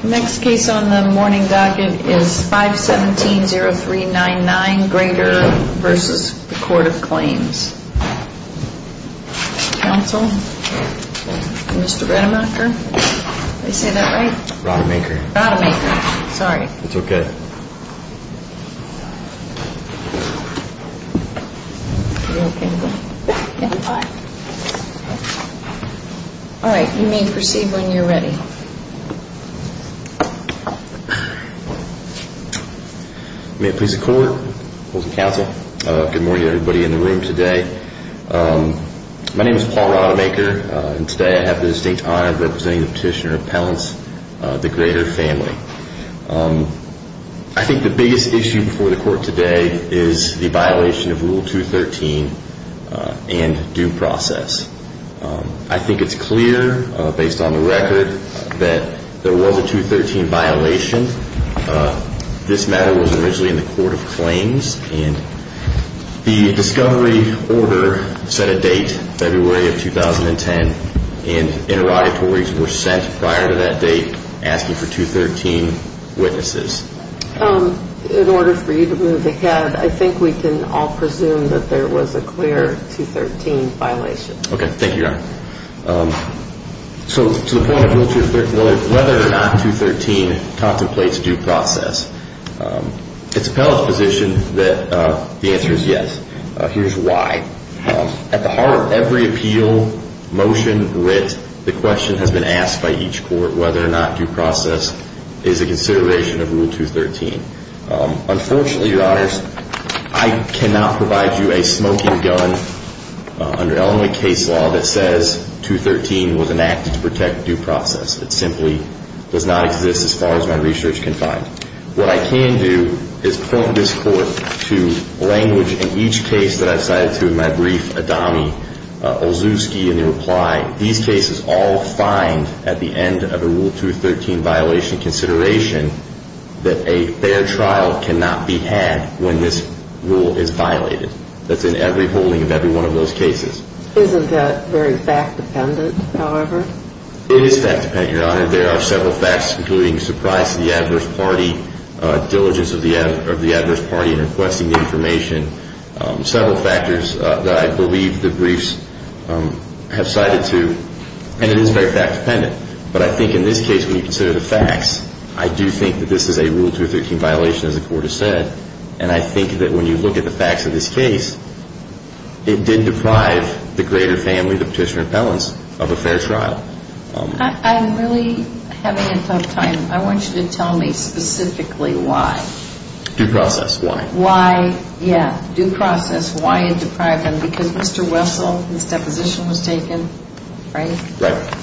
The next case on the morning docket is 517-0399, Grater v. The Court of Claims. Counsel? Mr. Redemaker? Did I say that right? Rodemaker. Rodemaker. Sorry. It's okay. All right. You may proceed when you're ready. May it please the Court, both the counsel, good morning to everybody in the room today. My name is Paul Rodemaker, and today I have the distinct honor of representing the petitioner of Appellants, the Grater family. I think the biggest issue before the Court today is the violation of Rule 213 and due process. I think it's clear, based on the record, that there was a 213 violation. This matter was originally in the Court of Claims, and the discovery order set a date, February of 2010, and interrogatories were sent prior to that date asking for 213 witnesses. In order for you to move ahead, I think we can all presume that there was a clear 213 violation. So to the point of Rule 213, whether or not 213 contemplates due process, it's appellate's position that the answer is yes. Here's why. At the heart of every appeal, motion, writ, the question has been asked by each court whether or not due process is a consideration of Rule 213. Unfortunately, Your Honors, I cannot provide you a smoking gun under Illinois case law that says 213 was enacted to protect due process. It simply does not exist as far as my research can find. What I can do is point this Court to language in each case that I've cited to in my brief. These cases all find at the end of a Rule 213 violation consideration that a fair trial cannot be had when this rule is violated. That's in every holding of every one of those cases. Isn't that very fact-dependent, however? It is fact-dependent, Your Honor. There are several facts, including surprise to the adverse party, diligence of the adverse party in requesting the information, several factors that I believe the briefs have cited to. And it is very fact-dependent. But I think in this case, when you consider the facts, I do think that this is a Rule 213 violation, as the Court has said. And I think that when you look at the facts of this case, it did deprive the greater family, the petitioner appellants, of a fair trial. I'm really having a tough time. I want you to tell me specifically why. Due process. Why? Why, yeah, due process. Why it deprived them? Because Mr. Wessel, his deposition was taken, right? Right.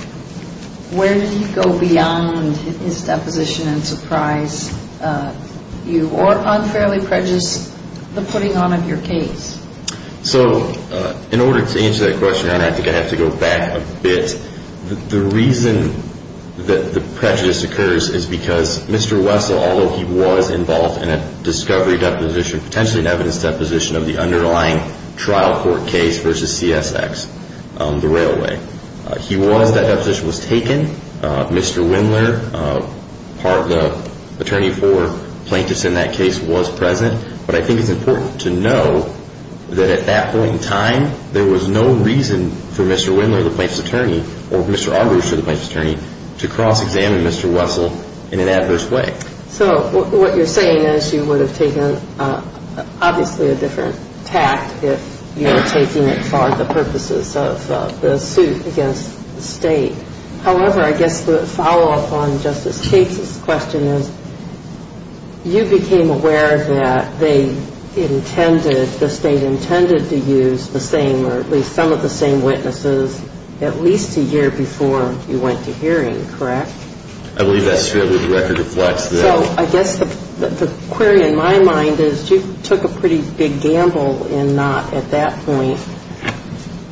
Where did he go beyond his deposition and surprise you? Or unfairly prejudice the putting on of your case? So in order to answer that question, Your Honor, I think I have to go back a bit. The reason that the prejudice occurs is because Mr. Wessel, although he was involved in a discovery deposition, potentially an evidence deposition of the underlying trial court case versus CSX, the railway. He was, that deposition was taken. Mr. Wendler, part of the attorney for plaintiffs in that case, was present. But I think it's important to know that at that point in time, there was no reason for Mr. Wendler, the plaintiff's attorney, or Mr. Arbus, the plaintiff's attorney, to cross-examine Mr. Wessel in an adverse way. So what you're saying is you would have taken obviously a different tact if you were taking it for the purposes of the suit against the state. However, I guess the follow-up on Justice States' question is you became aware that they intended, the state intended to use the same or at least some of the same witnesses at least a year before you went to hearing, correct? I believe that's true. I believe the record reflects that. So I guess the query in my mind is you took a pretty big gamble in not at that point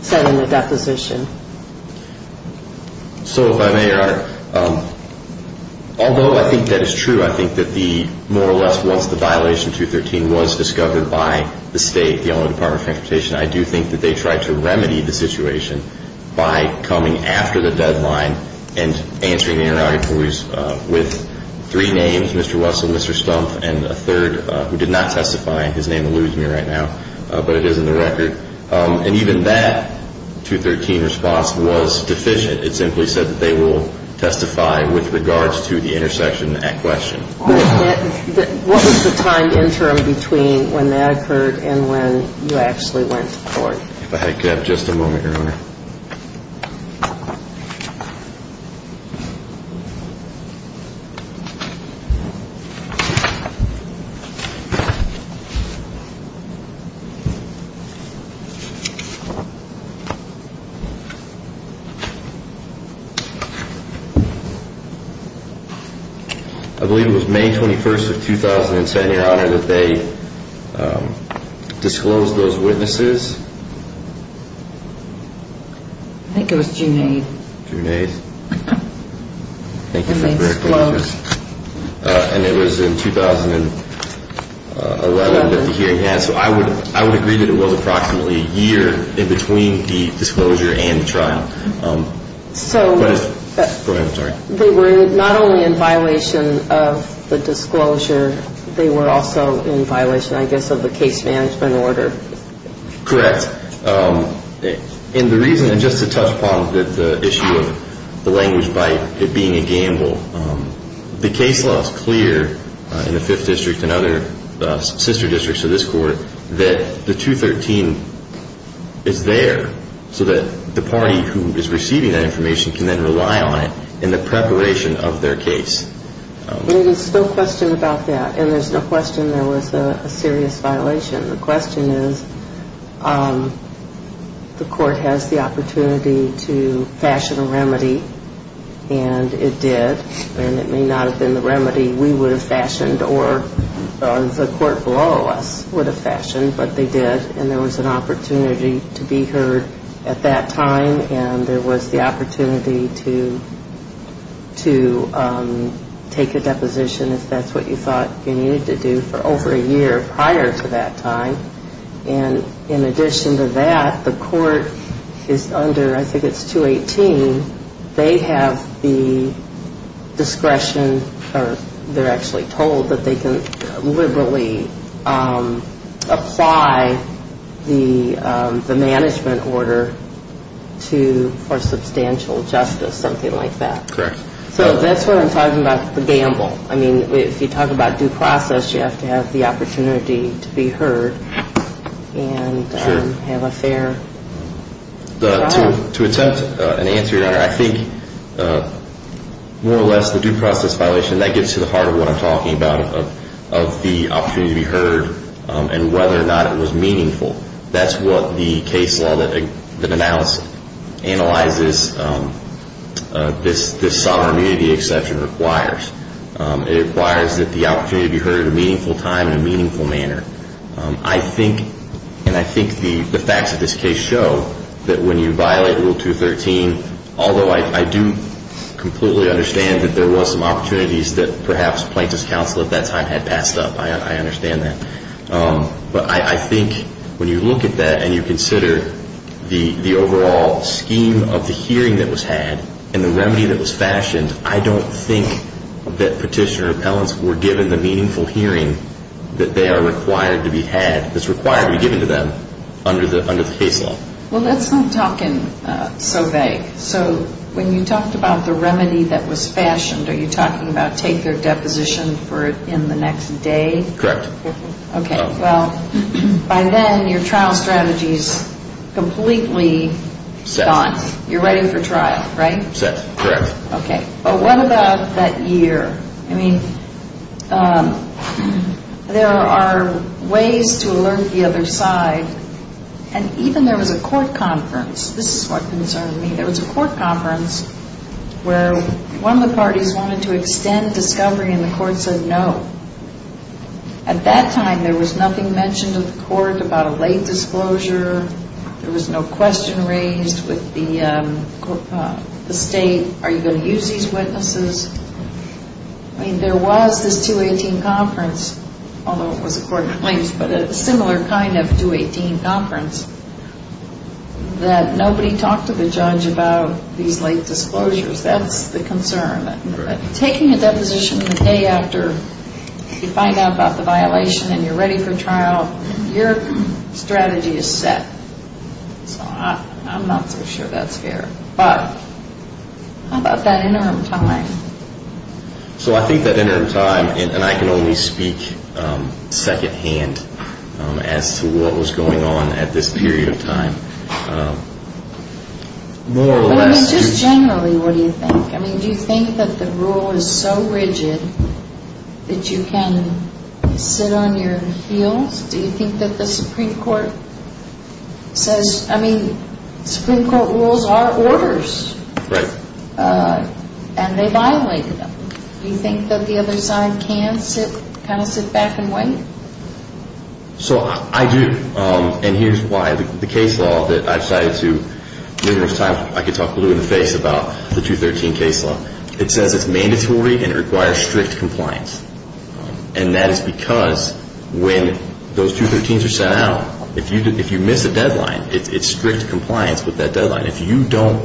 setting the deposition. So if I may, Your Honor, although I think that is true, I think that the more or less once the violation 213 was discovered by the state, the Illinois Department of Transportation, I do think that they tried to remedy the situation by coming after the deadline and answering the interrogatories with three names, Mr. Wessel, Mr. Stumpf, and a third who did not testify. His name eludes me right now, but it is in the record. And even that 213 response was deficient. It simply said that they will testify with regards to the intersection at question. What was the time interim between when that occurred and when you actually went to court? If I could have just a moment, Your Honor. I believe it was May 21st of 2007, Your Honor, that they disclosed those witnesses. I think it was June 8th. June 8th. And they disclosed. And it was in 2011 that the hearing happened. So I would agree that it was approximately a year in between the disclosure and the trial. So they were not only in violation of the disclosure. They were also in violation, I guess, of the case management order. Correct. And the reason, and just to touch upon the issue of the language by it being a gamble, the case law is clear in the Fifth District and other sister districts of this court that the 213 is there so that the party who is receiving that information can then rely on it in the preparation of their case. There is no question about that. And there's no question there was a serious violation. The question is the court has the opportunity to fashion a remedy, and it did. And it may not have been the remedy we would have fashioned or the court below us would have fashioned, but they did. And there was an opportunity to be heard at that time, and there was the opportunity to take a deposition, if that's what you thought you needed to do, for over a year prior to that time. And in addition to that, the court is under, I think it's 218. They have the discretion, or they're actually told, that they can liberally apply the management order for substantial justice, something like that. Correct. So that's what I'm talking about, the gamble. I mean, if you talk about due process, you have to have the opportunity to be heard and have a fair trial. To attempt an answer, Your Honor, I think more or less the due process violation, that gets to the heart of what I'm talking about, of the opportunity to be heard and whether or not it was meaningful. That's what the case law that analyses this sovereign immunity exception requires. It requires that the opportunity to be heard at a meaningful time in a meaningful manner. I think, and I think the facts of this case show, that when you violate Rule 213, although I do completely understand that there was some opportunities that perhaps Plaintiff's counsel at that time had passed up. I understand that. But I think when you look at that and you consider the overall scheme of the hearing that was had and the remedy that was fashioned, I don't think that petitioner appellants were given the meaningful hearing that they are required to be had, that's required to be given to them under the case law. Well, let's not talk in so vague. So when you talked about the remedy that was fashioned, are you talking about take their deposition in the next day? Correct. Okay. Well, by then your trial strategy is completely gone. You're ready for trial, right? Correct. Okay. But what about that year? I mean, there are ways to alert the other side, and even there was a court conference. This is what concerned me. There was a court conference where one of the parties wanted to extend discovery, and the court said no. At that time, there was nothing mentioned in the court about a late disclosure. There was no question raised with the state, are you going to use these witnesses? I mean, there was this 218 conference, although it was a court of claims, but a similar kind of 218 conference that nobody talked to the judge about these late disclosures. That's the concern. Taking a deposition the day after you find out about the violation and you're ready for trial, your strategy is set. So I'm not so sure that's fair. But how about that interim time? So I think that interim time, and I can only speak secondhand as to what was going on at this period of time, more or less. I mean, just generally, what do you think? I mean, do you think that the rule is so rigid that you can sit on your heels? Do you think that the Supreme Court says, I mean, Supreme Court rules are orders. Right. And they violated them. Do you think that the other side can kind of sit back and wait? So I do, and here's why. The case law that I've cited numerous times, I could talk blue in the face about the 213 case law. It says it's mandatory and it requires strict compliance. And that is because when those 213s are sent out, if you miss a deadline, it's strict compliance with that deadline. If you don't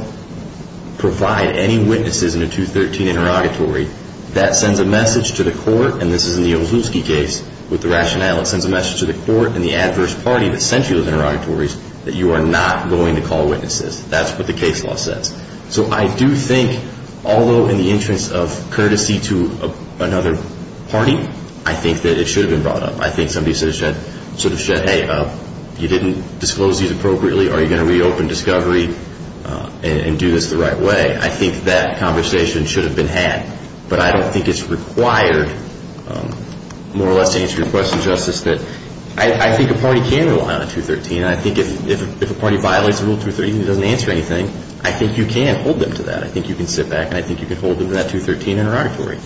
provide any witnesses in a 213 interrogatory, that sends a message to the court, and this is in the Olszewski case with the rationale it sends a message to the court and the adverse party that sent you those interrogatories, that you are not going to call witnesses. That's what the case law says. So I do think, although in the interest of courtesy to another party, I think that it should have been brought up. I think somebody should have said, hey, you didn't disclose these appropriately. Are you going to reopen discovery and do this the right way? I think that conversation should have been had. But I don't think it's required more or less to answer your question, Justice, that I think a party can rely on a 213. And I think if a party violates a Rule 213 and doesn't answer anything, I think you can hold them to that. I think you can sit back and I think you can hold them to that 213 interrogatory.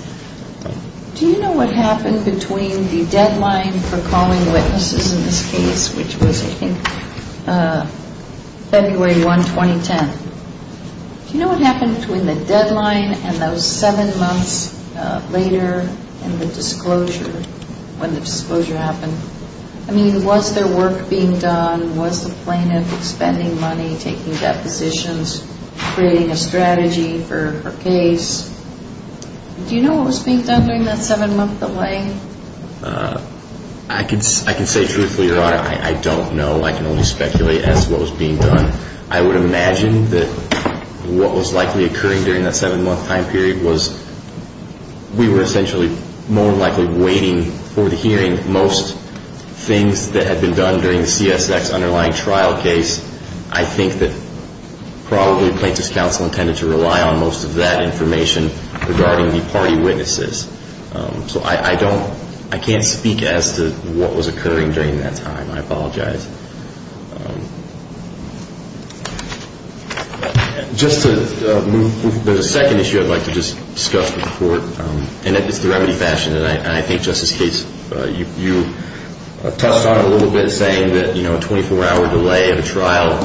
Do you know what happened between the deadline for calling witnesses in this case, which was, I think, February 1, 2010? Do you know what happened between the deadline and those seven months later and the disclosure, when the disclosure happened? I mean, was there work being done? Was the plaintiff expending money, taking depositions, creating a strategy for her case? Do you know what was being done during that seven-month delay? I can say truthfully, Your Honor, I don't know. I can only speculate as to what was being done. I would imagine that what was likely occurring during that seven-month time period was we were essentially more likely waiting for the hearing. Most things that had been done during the CSX underlying trial case, I think that probably the plaintiff's counsel intended to rely on most of that information regarding the party witnesses. So I don't – I can't speak as to what was occurring during that time. I apologize. Just to move – there's a second issue I'd like to just discuss with the Court, and it's the remedy fashion. And I think, Justice Gates, you touched on it a little bit, saying that a 24-hour delay of a trial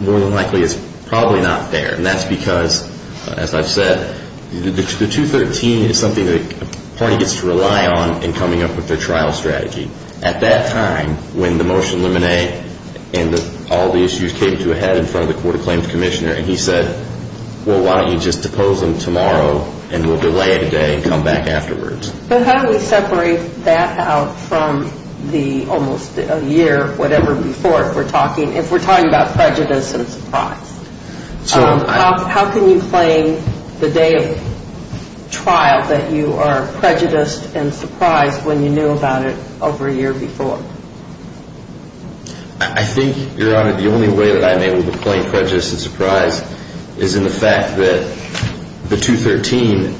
more than likely is probably not fair. And that's because, as I've said, the 213 is something that a party gets to rely on in coming up with their trial strategy. At that time, when the motion limine and all the issues came to a head in front of the Court of Claims Commissioner, he said, well, why don't you just depose them tomorrow and we'll delay it a day and come back afterwards. But how do we separate that out from the almost a year, whatever, before if we're talking – if we're talking about prejudice and surprise? How can you claim the day of trial that you are prejudiced and surprised when you knew about it over a year before? I think, Your Honor, the only way that I'm able to claim prejudice and surprise is in the fact that the 213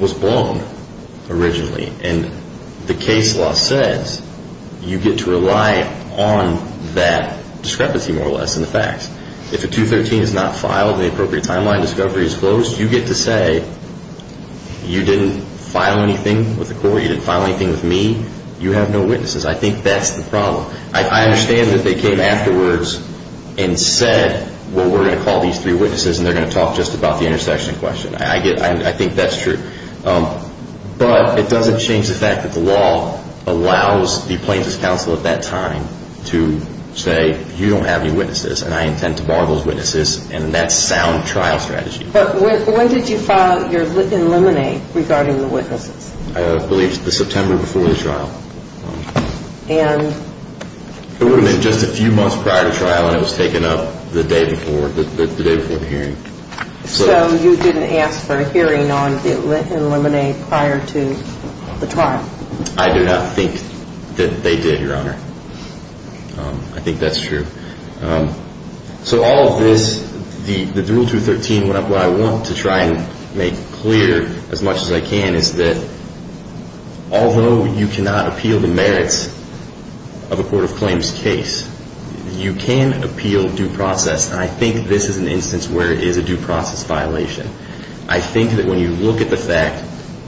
was blown originally. And the case law says you get to rely on that discrepancy, more or less, in the facts. If a 213 is not filed and the appropriate timeline discovery is closed, you get to say you didn't file anything with the Court, you didn't file anything with me, you have no witnesses. I think that's the problem. I understand that they came afterwards and said, well, we're going to call these three witnesses and they're going to talk just about the intersection question. I think that's true. But it doesn't change the fact that the law allows the Plaintiffs' Counsel at that time to say you don't have any witnesses and I intend to bar those witnesses, and that's sound trial strategy. But when did you file your limine regarding the witnesses? I believe it was September before the trial. And? It would have been just a few months prior to trial and it was taken up the day before the hearing. So you didn't ask for a hearing on the limine prior to the trial? I do not think that they did, Your Honor. I think that's true. So all of this, the Rule 213, what I want to try and make clear as much as I can is that although you cannot appeal the merits of a court of claims case, you can appeal due process, and I think this is an instance where it is a due process violation. I think that when you look at the fact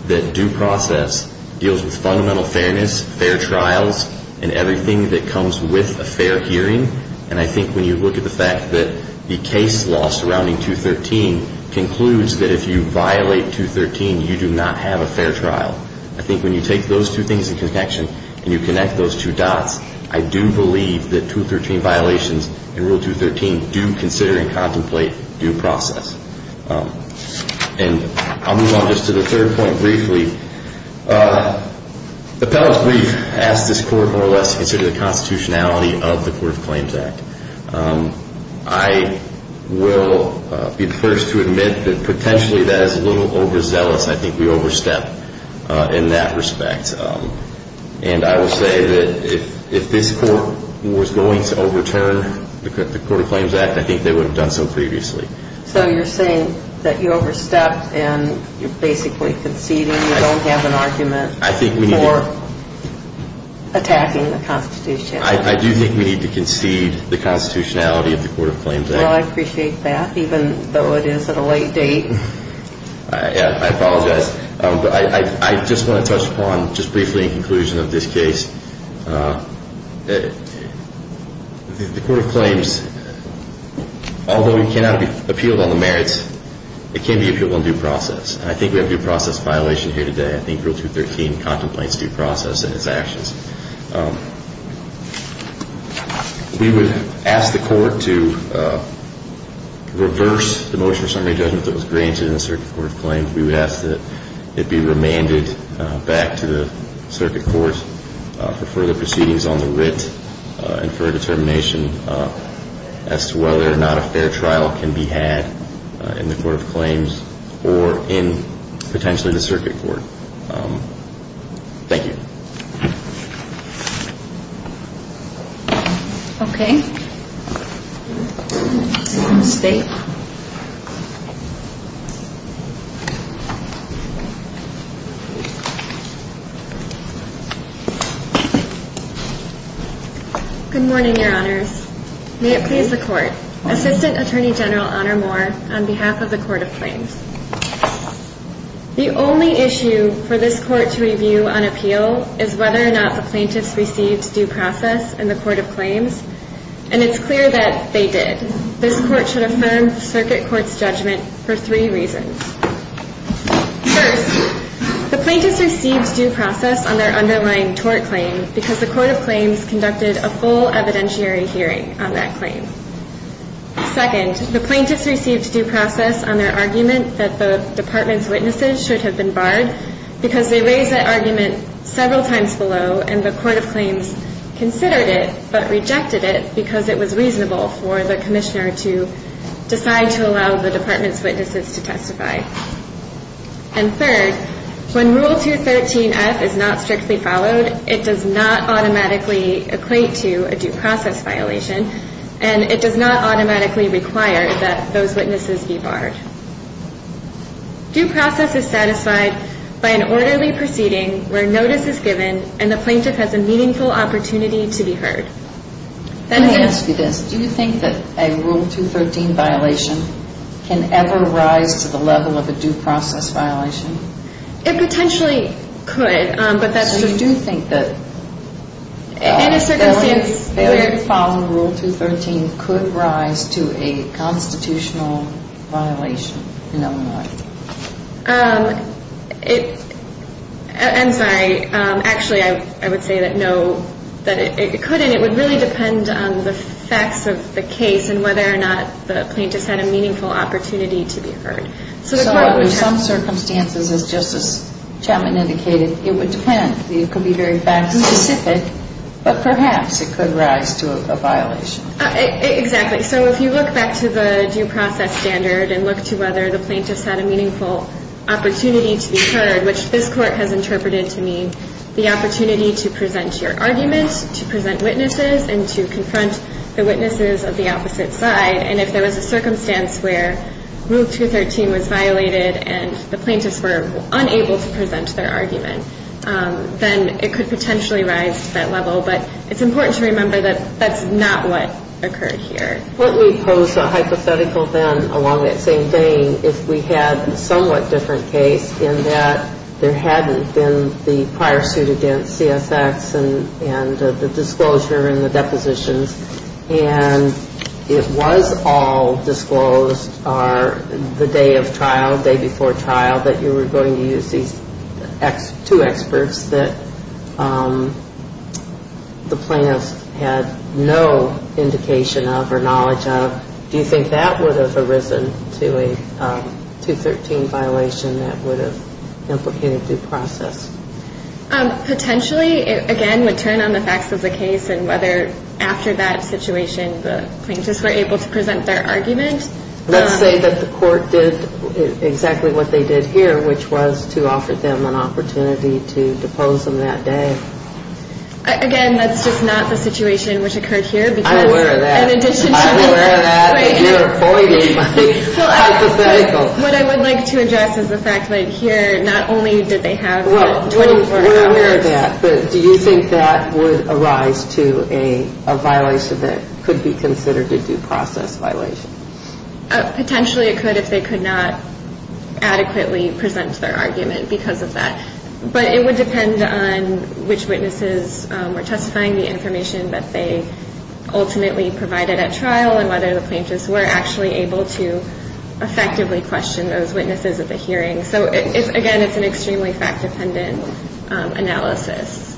that due process deals with fundamental fairness, fair trials, and everything that comes with a fair hearing, and I think when you look at the fact that the case law surrounding 213 concludes that if you violate 213, you do not have a fair trial. I think when you take those two things in connection and you connect those two dots, I do believe that 213 violations in Rule 213 do consider and contemplate due process. And I'll move on just to the third point briefly. Appellants, we've asked this court more or less to consider the constitutionality of the Court of Claims Act. I will be the first to admit that potentially that is a little overzealous. I think we overstepped in that respect. And I will say that if this court was going to overturn the Court of Claims Act, I think they would have done so previously. So you're saying that you overstepped and you're basically conceding you don't have an argument for attacking the constitutionality? I do think we need to concede the constitutionality of the Court of Claims Act. Well, I appreciate that, even though it is at a late date. I apologize. But I just want to touch upon just briefly in conclusion of this case. The Court of Claims, although it cannot be appealed on the merits, it can be appealed on due process. And I think we have a due process violation here today. I think Rule 213 contemplates due process in its actions. We would ask the court to reverse the motion of summary judgment that was granted in the Circuit Court of Claims. We would ask that it be remanded back to the Circuit Court for further proceedings on the writ and for a determination as to whether or not a fair trial can be had in the Court of Claims or in potentially the Circuit Court. Thank you. Okay. State. Thank you. Good morning, Your Honors. May it please the Court, Assistant Attorney General Honor Moore, on behalf of the Court of Claims. The only issue for this Court to review on appeal is whether or not the plaintiffs received due process in the Court of Claims. And it's clear that they did. This Court should affirm the Circuit Court's judgment for three reasons. First, the plaintiffs received due process on their underlying tort claim because the Court of Claims conducted a full evidentiary hearing on that claim. Second, the plaintiffs received due process on their argument that the Department's witnesses should have been barred because they raised that argument several times below and the Court of Claims considered it but rejected it because it was reasonable for the Commissioner to decide to allow the Department's witnesses to testify. And third, when Rule 213F is not strictly followed, it does not automatically equate to a due process violation and it does not automatically require that those witnesses be barred. Due process is satisfied by an orderly proceeding where notice is given and the plaintiff has a meaningful opportunity to be heard. Let me ask you this. Do you think that a Rule 213 violation can ever rise to the level of a due process violation? It potentially could, but that's just... Failure to follow Rule 213 could rise to a constitutional violation in Illinois. I'm sorry. Actually, I would say that no, that it could and it would really depend on the facts of the case and whether or not the plaintiffs had a meaningful opportunity to be heard. So in some circumstances, as Justice Chapman indicated, it would depend. It could be very fact-specific, but perhaps it could rise to a violation. Exactly. So if you look back to the due process standard and look to whether the plaintiffs had a meaningful opportunity to be heard, which this Court has interpreted to mean the opportunity to present your argument, to present witnesses and to confront the witnesses of the opposite side, and if there was a circumstance where Rule 213 was violated and the plaintiffs were unable to present their argument, then it could potentially rise to that level. But it's important to remember that that's not what occurred here. Wouldn't we pose a hypothetical then along that same vein if we had a somewhat different case in that there hadn't been the prior suit against CSX and the disclosure and the depositions and it was all disclosed the day of trial, day before trial, that you were going to use these two experts that the plaintiffs had no indication of or knowledge of? Do you think that would have arisen to a 213 violation that would have implicated due process? Potentially, again, it would turn on the facts of the case and whether after that situation the plaintiffs were able to present their argument. Let's say that the Court did exactly what they did here, which was to offer them an opportunity to depose them that day. Again, that's just not the situation which occurred here. I'm aware of that. I'm aware of that and you're avoiding my hypothetical. What I would like to address is the fact that here not only did they have 24 hours. We're aware of that, but do you think that would arise to a violation that could be considered a due process violation? Potentially it could if they could not adequately present their argument because of that. But it would depend on which witnesses were testifying the information that they ultimately provided at trial and whether the plaintiffs were actually able to effectively question those witnesses at the hearing. So, again, it's an extremely fact-dependent analysis.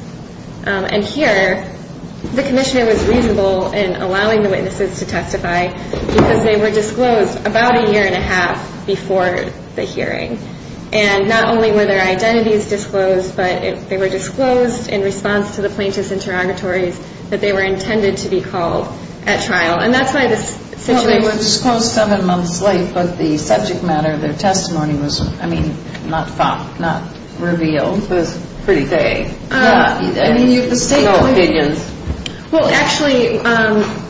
And here the commissioner was reasonable in allowing the witnesses to testify because they were disclosed about a year and a half before the hearing. And not only were their identities disclosed, but they were disclosed in response to the plaintiffs' interrogatories that they were intended to be called at trial. And that's why this situation… The subject matter of their testimony was, I mean, not found, not revealed. It was pretty vague. Yeah. I mean, you can state your opinions. Well, actually,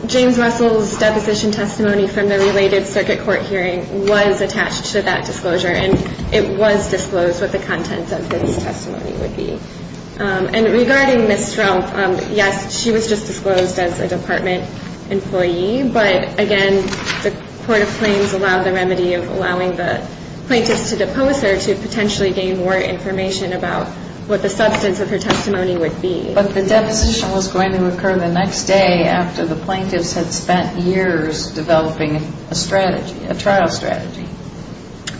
James Russell's deposition testimony from the related circuit court hearing was attached to that disclosure and it was disclosed what the contents of his testimony would be. And regarding Ms. Strumpf, yes, she was just disclosed as a department employee. But, again, the court of claims allowed the remedy of allowing the plaintiffs to depose her to potentially gain more information about what the substance of her testimony would be. But the deposition was going to occur the next day after the plaintiffs had spent years developing a strategy, a trial strategy.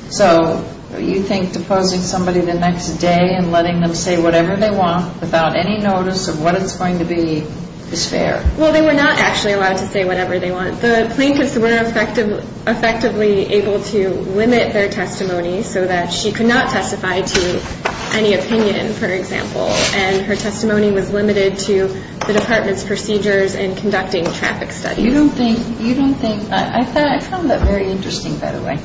So you think deposing somebody the next day and letting them say whatever they want without any notice of what it's going to be is fair? Well, they were not actually allowed to say whatever they want. The plaintiffs were effectively able to limit their testimony so that she could not testify to any opinion, for example. And her testimony was limited to the department's procedures in conducting traffic studies. You don't think… I found that very interesting, by the way.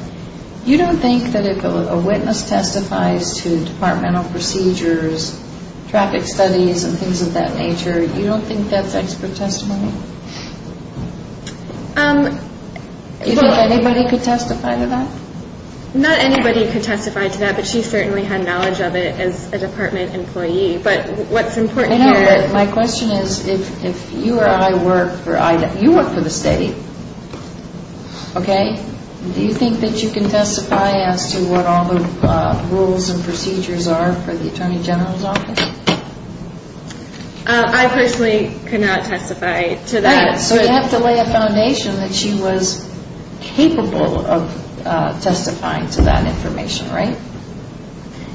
You don't think that if a witness testifies to departmental procedures, traffic studies and things of that nature, you don't think that's expert testimony? Do you think anybody could testify to that? Not anybody could testify to that, but she certainly had knowledge of it as a department employee. But what's important here… I know, but my question is if you or I work for… you work for the state, okay? Do you think that you can testify as to what all the rules and procedures are for the attorney general's office? I personally could not testify to that. Right, so you have to lay a foundation that she was capable of testifying to that information, right?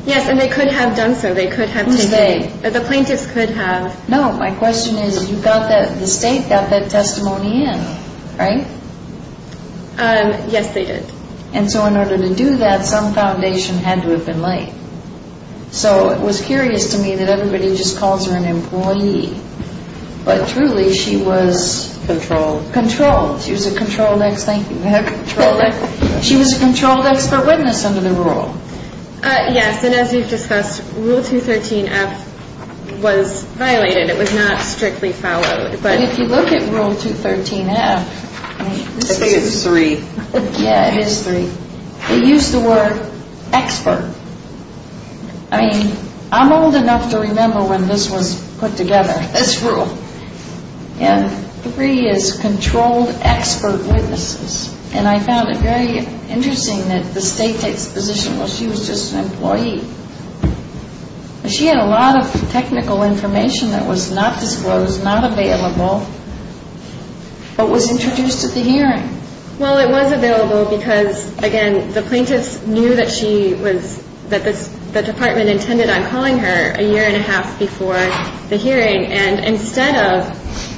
Yes, and they could have done so. Who say? The plaintiffs could have. No, my question is you got that… the state got that testimony in, right? Yes, they did. And so in order to do that, some foundation had to have been laid. So it was curious to me that everybody just calls her an employee. But truly, she was… Controlled. Controlled. She was a controlled ex… thank you. She was a controlled expert witness under the rule. Yes, and as we've discussed, Rule 213F was violated. It was not strictly followed. But if you look at Rule 213F… I think it's 3. Yeah, it is 3. They used the word expert. I mean, I'm old enough to remember when this was put together, this rule. And 3 is controlled expert witnesses. And I found it very interesting that the state takes the position that she was just an employee. She had a lot of technical information that was not disclosed, not available, but was introduced at the hearing. Well, it was available because, again, the plaintiffs knew that she was… that the department intended on calling her a year and a half before the hearing. And instead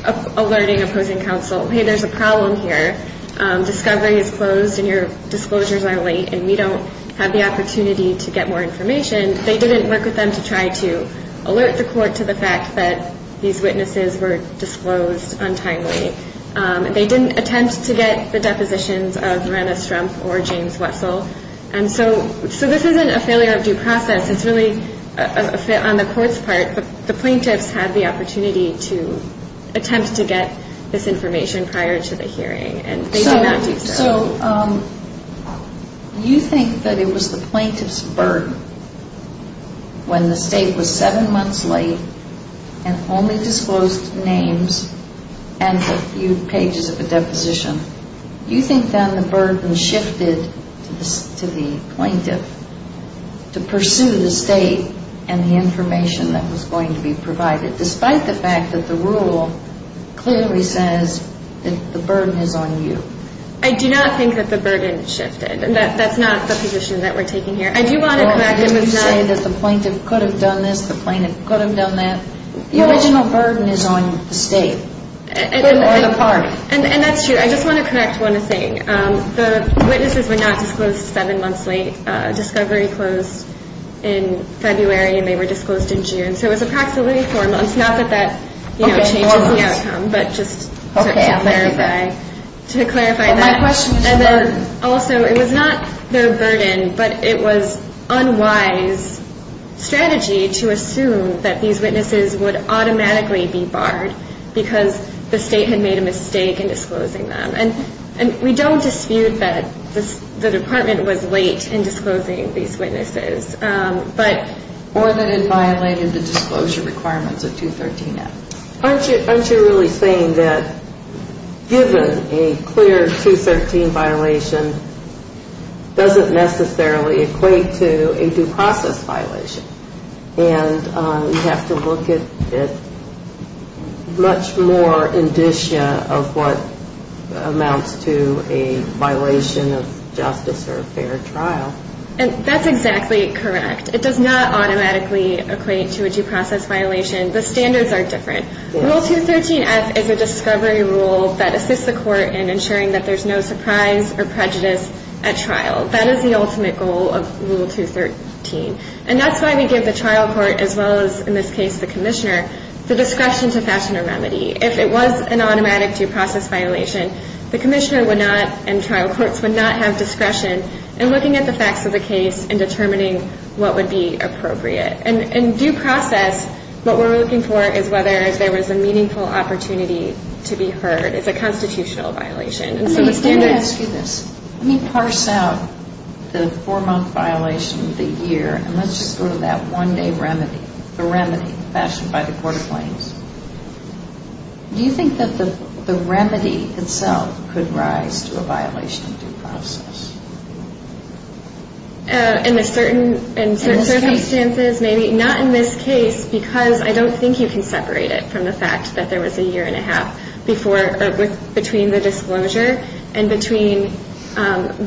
of alerting opposing counsel, hey, there's a problem here. Discovery is closed and your disclosures are late and we don't have the opportunity to get more information. They didn't work with them to try to alert the court to the fact that these witnesses were disclosed untimely. They didn't attempt to get the depositions of Miranda Strumpf or James Wessel. And so this isn't a failure of due process. It's really on the court's part. The plaintiffs had the opportunity to attempt to get this information prior to the hearing. And they did not do so. So you think that it was the plaintiff's burden when the state was 7 months late and only disclosed names and a few pages of a deposition. You think, then, the burden shifted to the plaintiff to pursue the state and the information that was going to be provided, despite the fact that the rule clearly says that the burden is on you. I do not think that the burden shifted. That's not the position that we're taking here. I do want to come back to… Well, you say that the plaintiff could have done this, the plaintiff could have done that. The original burden is on the state or the party. And that's true. I just want to correct one thing. The witnesses were not disclosed 7 months late. Discovery closed in February and they were disclosed in June. So it was approximately 4 months, not that that changes the outcome, but just to clarify that. My question is the burden. Also, it was not the burden, but it was unwise strategy to assume that these witnesses would automatically be barred because the state had made a mistake in disclosing them. And we don't dispute that the department was late in disclosing these witnesses, but… Or that it violated the disclosure requirements of 213F. Aren't you really saying that given a clear 213 violation doesn't necessarily equate to a due process violation and we have to look at much more indicia of what amounts to a violation of justice or fair trial? That's exactly correct. It does not automatically equate to a due process violation. The standards are different. Rule 213F is a discovery rule that assists the court in ensuring that there's no surprise or prejudice at trial. That is the ultimate goal of Rule 213. And that's why we give the trial court, as well as in this case the commissioner, the discretion to fashion a remedy. If it was an automatic due process violation, the commissioner would not and trial courts would not have discretion in looking at the facts of the case and determining what would be appropriate. In due process, what we're looking for is whether there was a meaningful opportunity to be heard. It's a constitutional violation. Let me ask you this. Let me parse out the four-month violation, the year, and let's just go to that one-day remedy, the remedy fashioned by the court of claims. Do you think that the remedy itself could rise to a violation of due process? In certain circumstances, maybe. Not in this case because I don't think you can separate it from the fact that there was a year and a half between the disclosure and between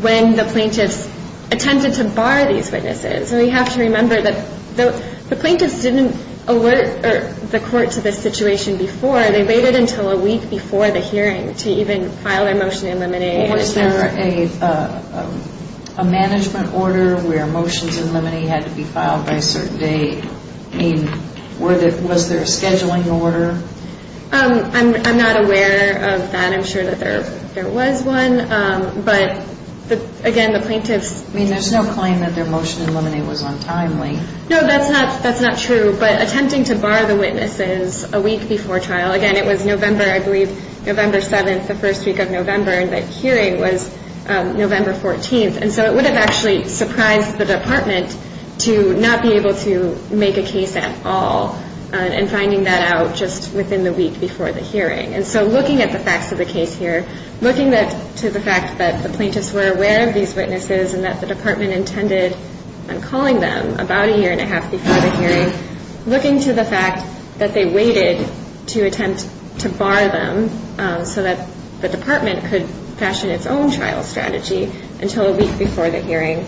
when the plaintiffs attempted to bar these witnesses. So we have to remember that the plaintiffs didn't alert the court to this situation before. They waited until a week before the hearing to even file their motion in limine. Was there a management order where motions in limine had to be filed by a certain date? I mean, was there a scheduling order? I'm not aware of that. I'm sure that there was one. But, again, the plaintiffs – I mean, there's no claim that their motion in limine was untimely. No, that's not true. But attempting to bar the witnesses a week before trial, again, it was November, I believe, November 7th, the first week of November, and the hearing was November 14th. And so it would have actually surprised the department to not be able to make a case at all. And finding that out just within the week before the hearing. And so looking at the facts of the case here, looking to the fact that the plaintiffs were aware of these witnesses and that the department intended on calling them about a year and a half before the hearing, looking to the fact that they waited to attempt to bar them so that the department could fashion its own trial strategy until a week before the hearing.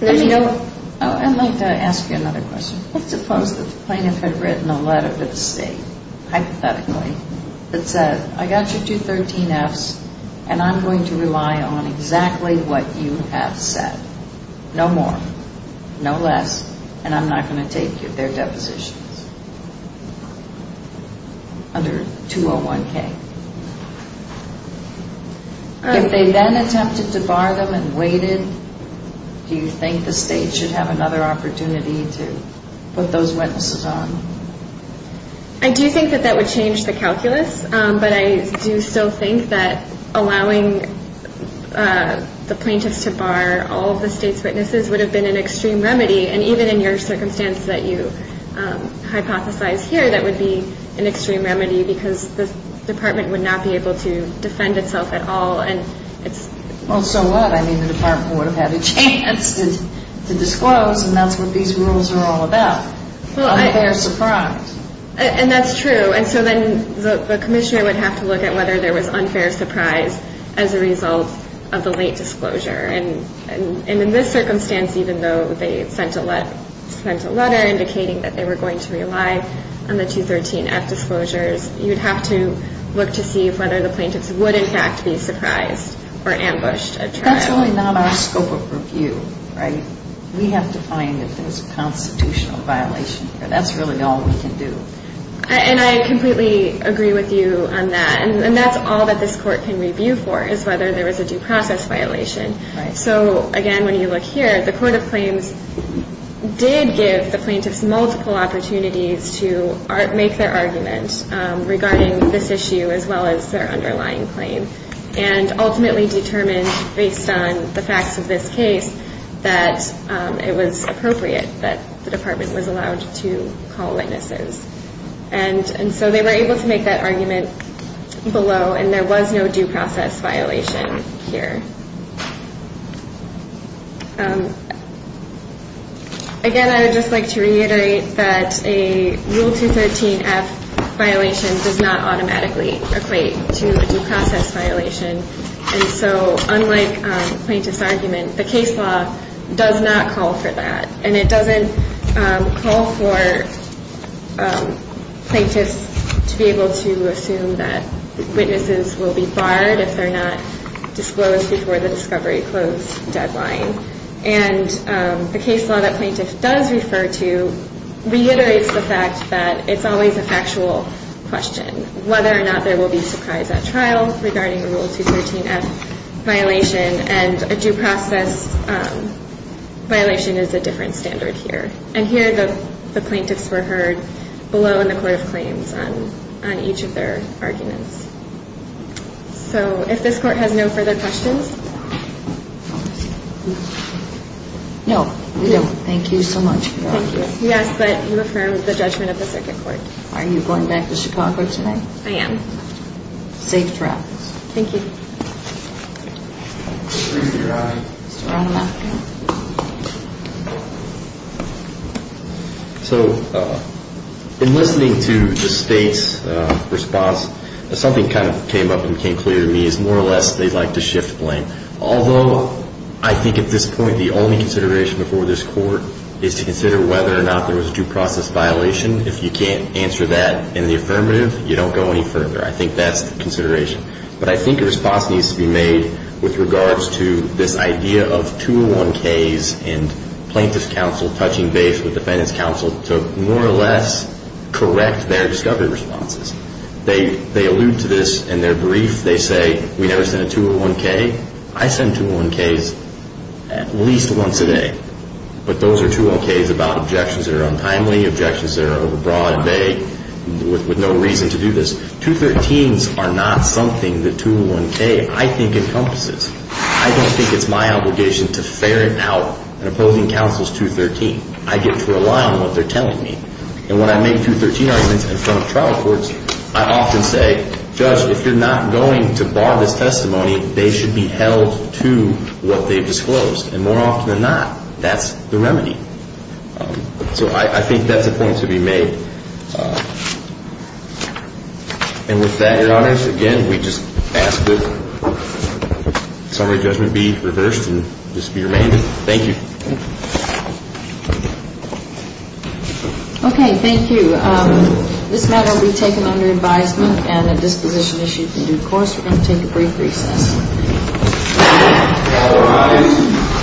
I'd like to ask you another question. Let's suppose that the plaintiff had written a letter to the state, hypothetically, that said, I got you two 13Fs, and I'm going to rely on exactly what you have said. No more, no less, and I'm not going to take their depositions. Under 201K. If they then attempted to bar them and waited, do you think the state should have another opportunity to put those witnesses on? I do think that that would change the calculus, but I do still think that allowing the plaintiffs to bar all of the state's witnesses would have been an extreme remedy. And even in your circumstance that you hypothesize here, that would be an extreme remedy because the department would not be able to defend itself at all. Well, so what? I mean, the department would have had a chance to disclose, and that's what these rules are all about. Unfair surprise. And that's true. And so then the commissioner would have to look at whether there was unfair surprise as a result of the late disclosure. And in this circumstance, even though they sent a letter indicating that they were going to rely on the 213F disclosures, you'd have to look to see whether the plaintiffs would in fact be surprised or ambushed at trial. That's really not our scope of review, right? We have to find if there's a constitutional violation here. That's really all we can do. And I completely agree with you on that. And that's all that this court can review for is whether there was a due process violation. So, again, when you look here, the court of claims did give the plaintiffs multiple opportunities to make their argument regarding this issue as well as their underlying claim and ultimately determined based on the facts of this case that it was appropriate that the department was allowed to call witnesses. And so they were able to make that argument below, and there was no due process violation here. Again, I would just like to reiterate that a Rule 213F violation does not automatically equate to a due process violation. And so unlike the plaintiff's argument, the case law does not call for that. And it doesn't call for plaintiffs to be able to assume that witnesses will be barred if they're not disclosed before the discovery close deadline. And the case law that plaintiffs does refer to reiterates the fact that it's always a factual question, whether or not they will be surprised at trial regarding a Rule 213F violation. And a due process violation is a different standard here. And here the plaintiffs were heard below in the court of claims on each of their arguments. So if this court has no further questions. No, we don't. Thank you so much. Thank you. Yes, but you affirmed the judgment of the circuit court. Are you going back to Chicago tonight? I am. Safe travels. Thank you. Mr. Romanoff. So in listening to the state's response, something kind of came up and became clear to me is more or less they'd like to shift blame. Although I think at this point the only consideration before this court is to consider whether or not there was a due process violation. If you can't answer that in the affirmative, you don't go any further. I think that's the consideration. But I think a response needs to be made with regards to this idea of 201Ks and plaintiffs' counsel touching base with defendants' counsel to more or less correct their discovery responses. They allude to this in their brief. They say we never sent a 201K. I send 201Ks at least once a day. But those are 201Ks about objections that are untimely, objections that are overbroad, vague, with no reason to do this. 213s are not something the 201K, I think, encompasses. I don't think it's my obligation to ferret out an opposing counsel's 213. I get to rely on what they're telling me. And when I make 213 arguments in front of trial courts, I often say, Judge, if you're not going to bar this testimony, they should be held to what they've disclosed. And more often than not, that's the remedy. So I think that's a point to be made. And with that, Your Honors, again, we just ask that summary judgment be reversed and just be remained. Thank you. Okay. Thank you. This matter will be taken under advisement and a disposition issued in due course. We're going to take a brief recess. Thank you. Thank you, Your Honors.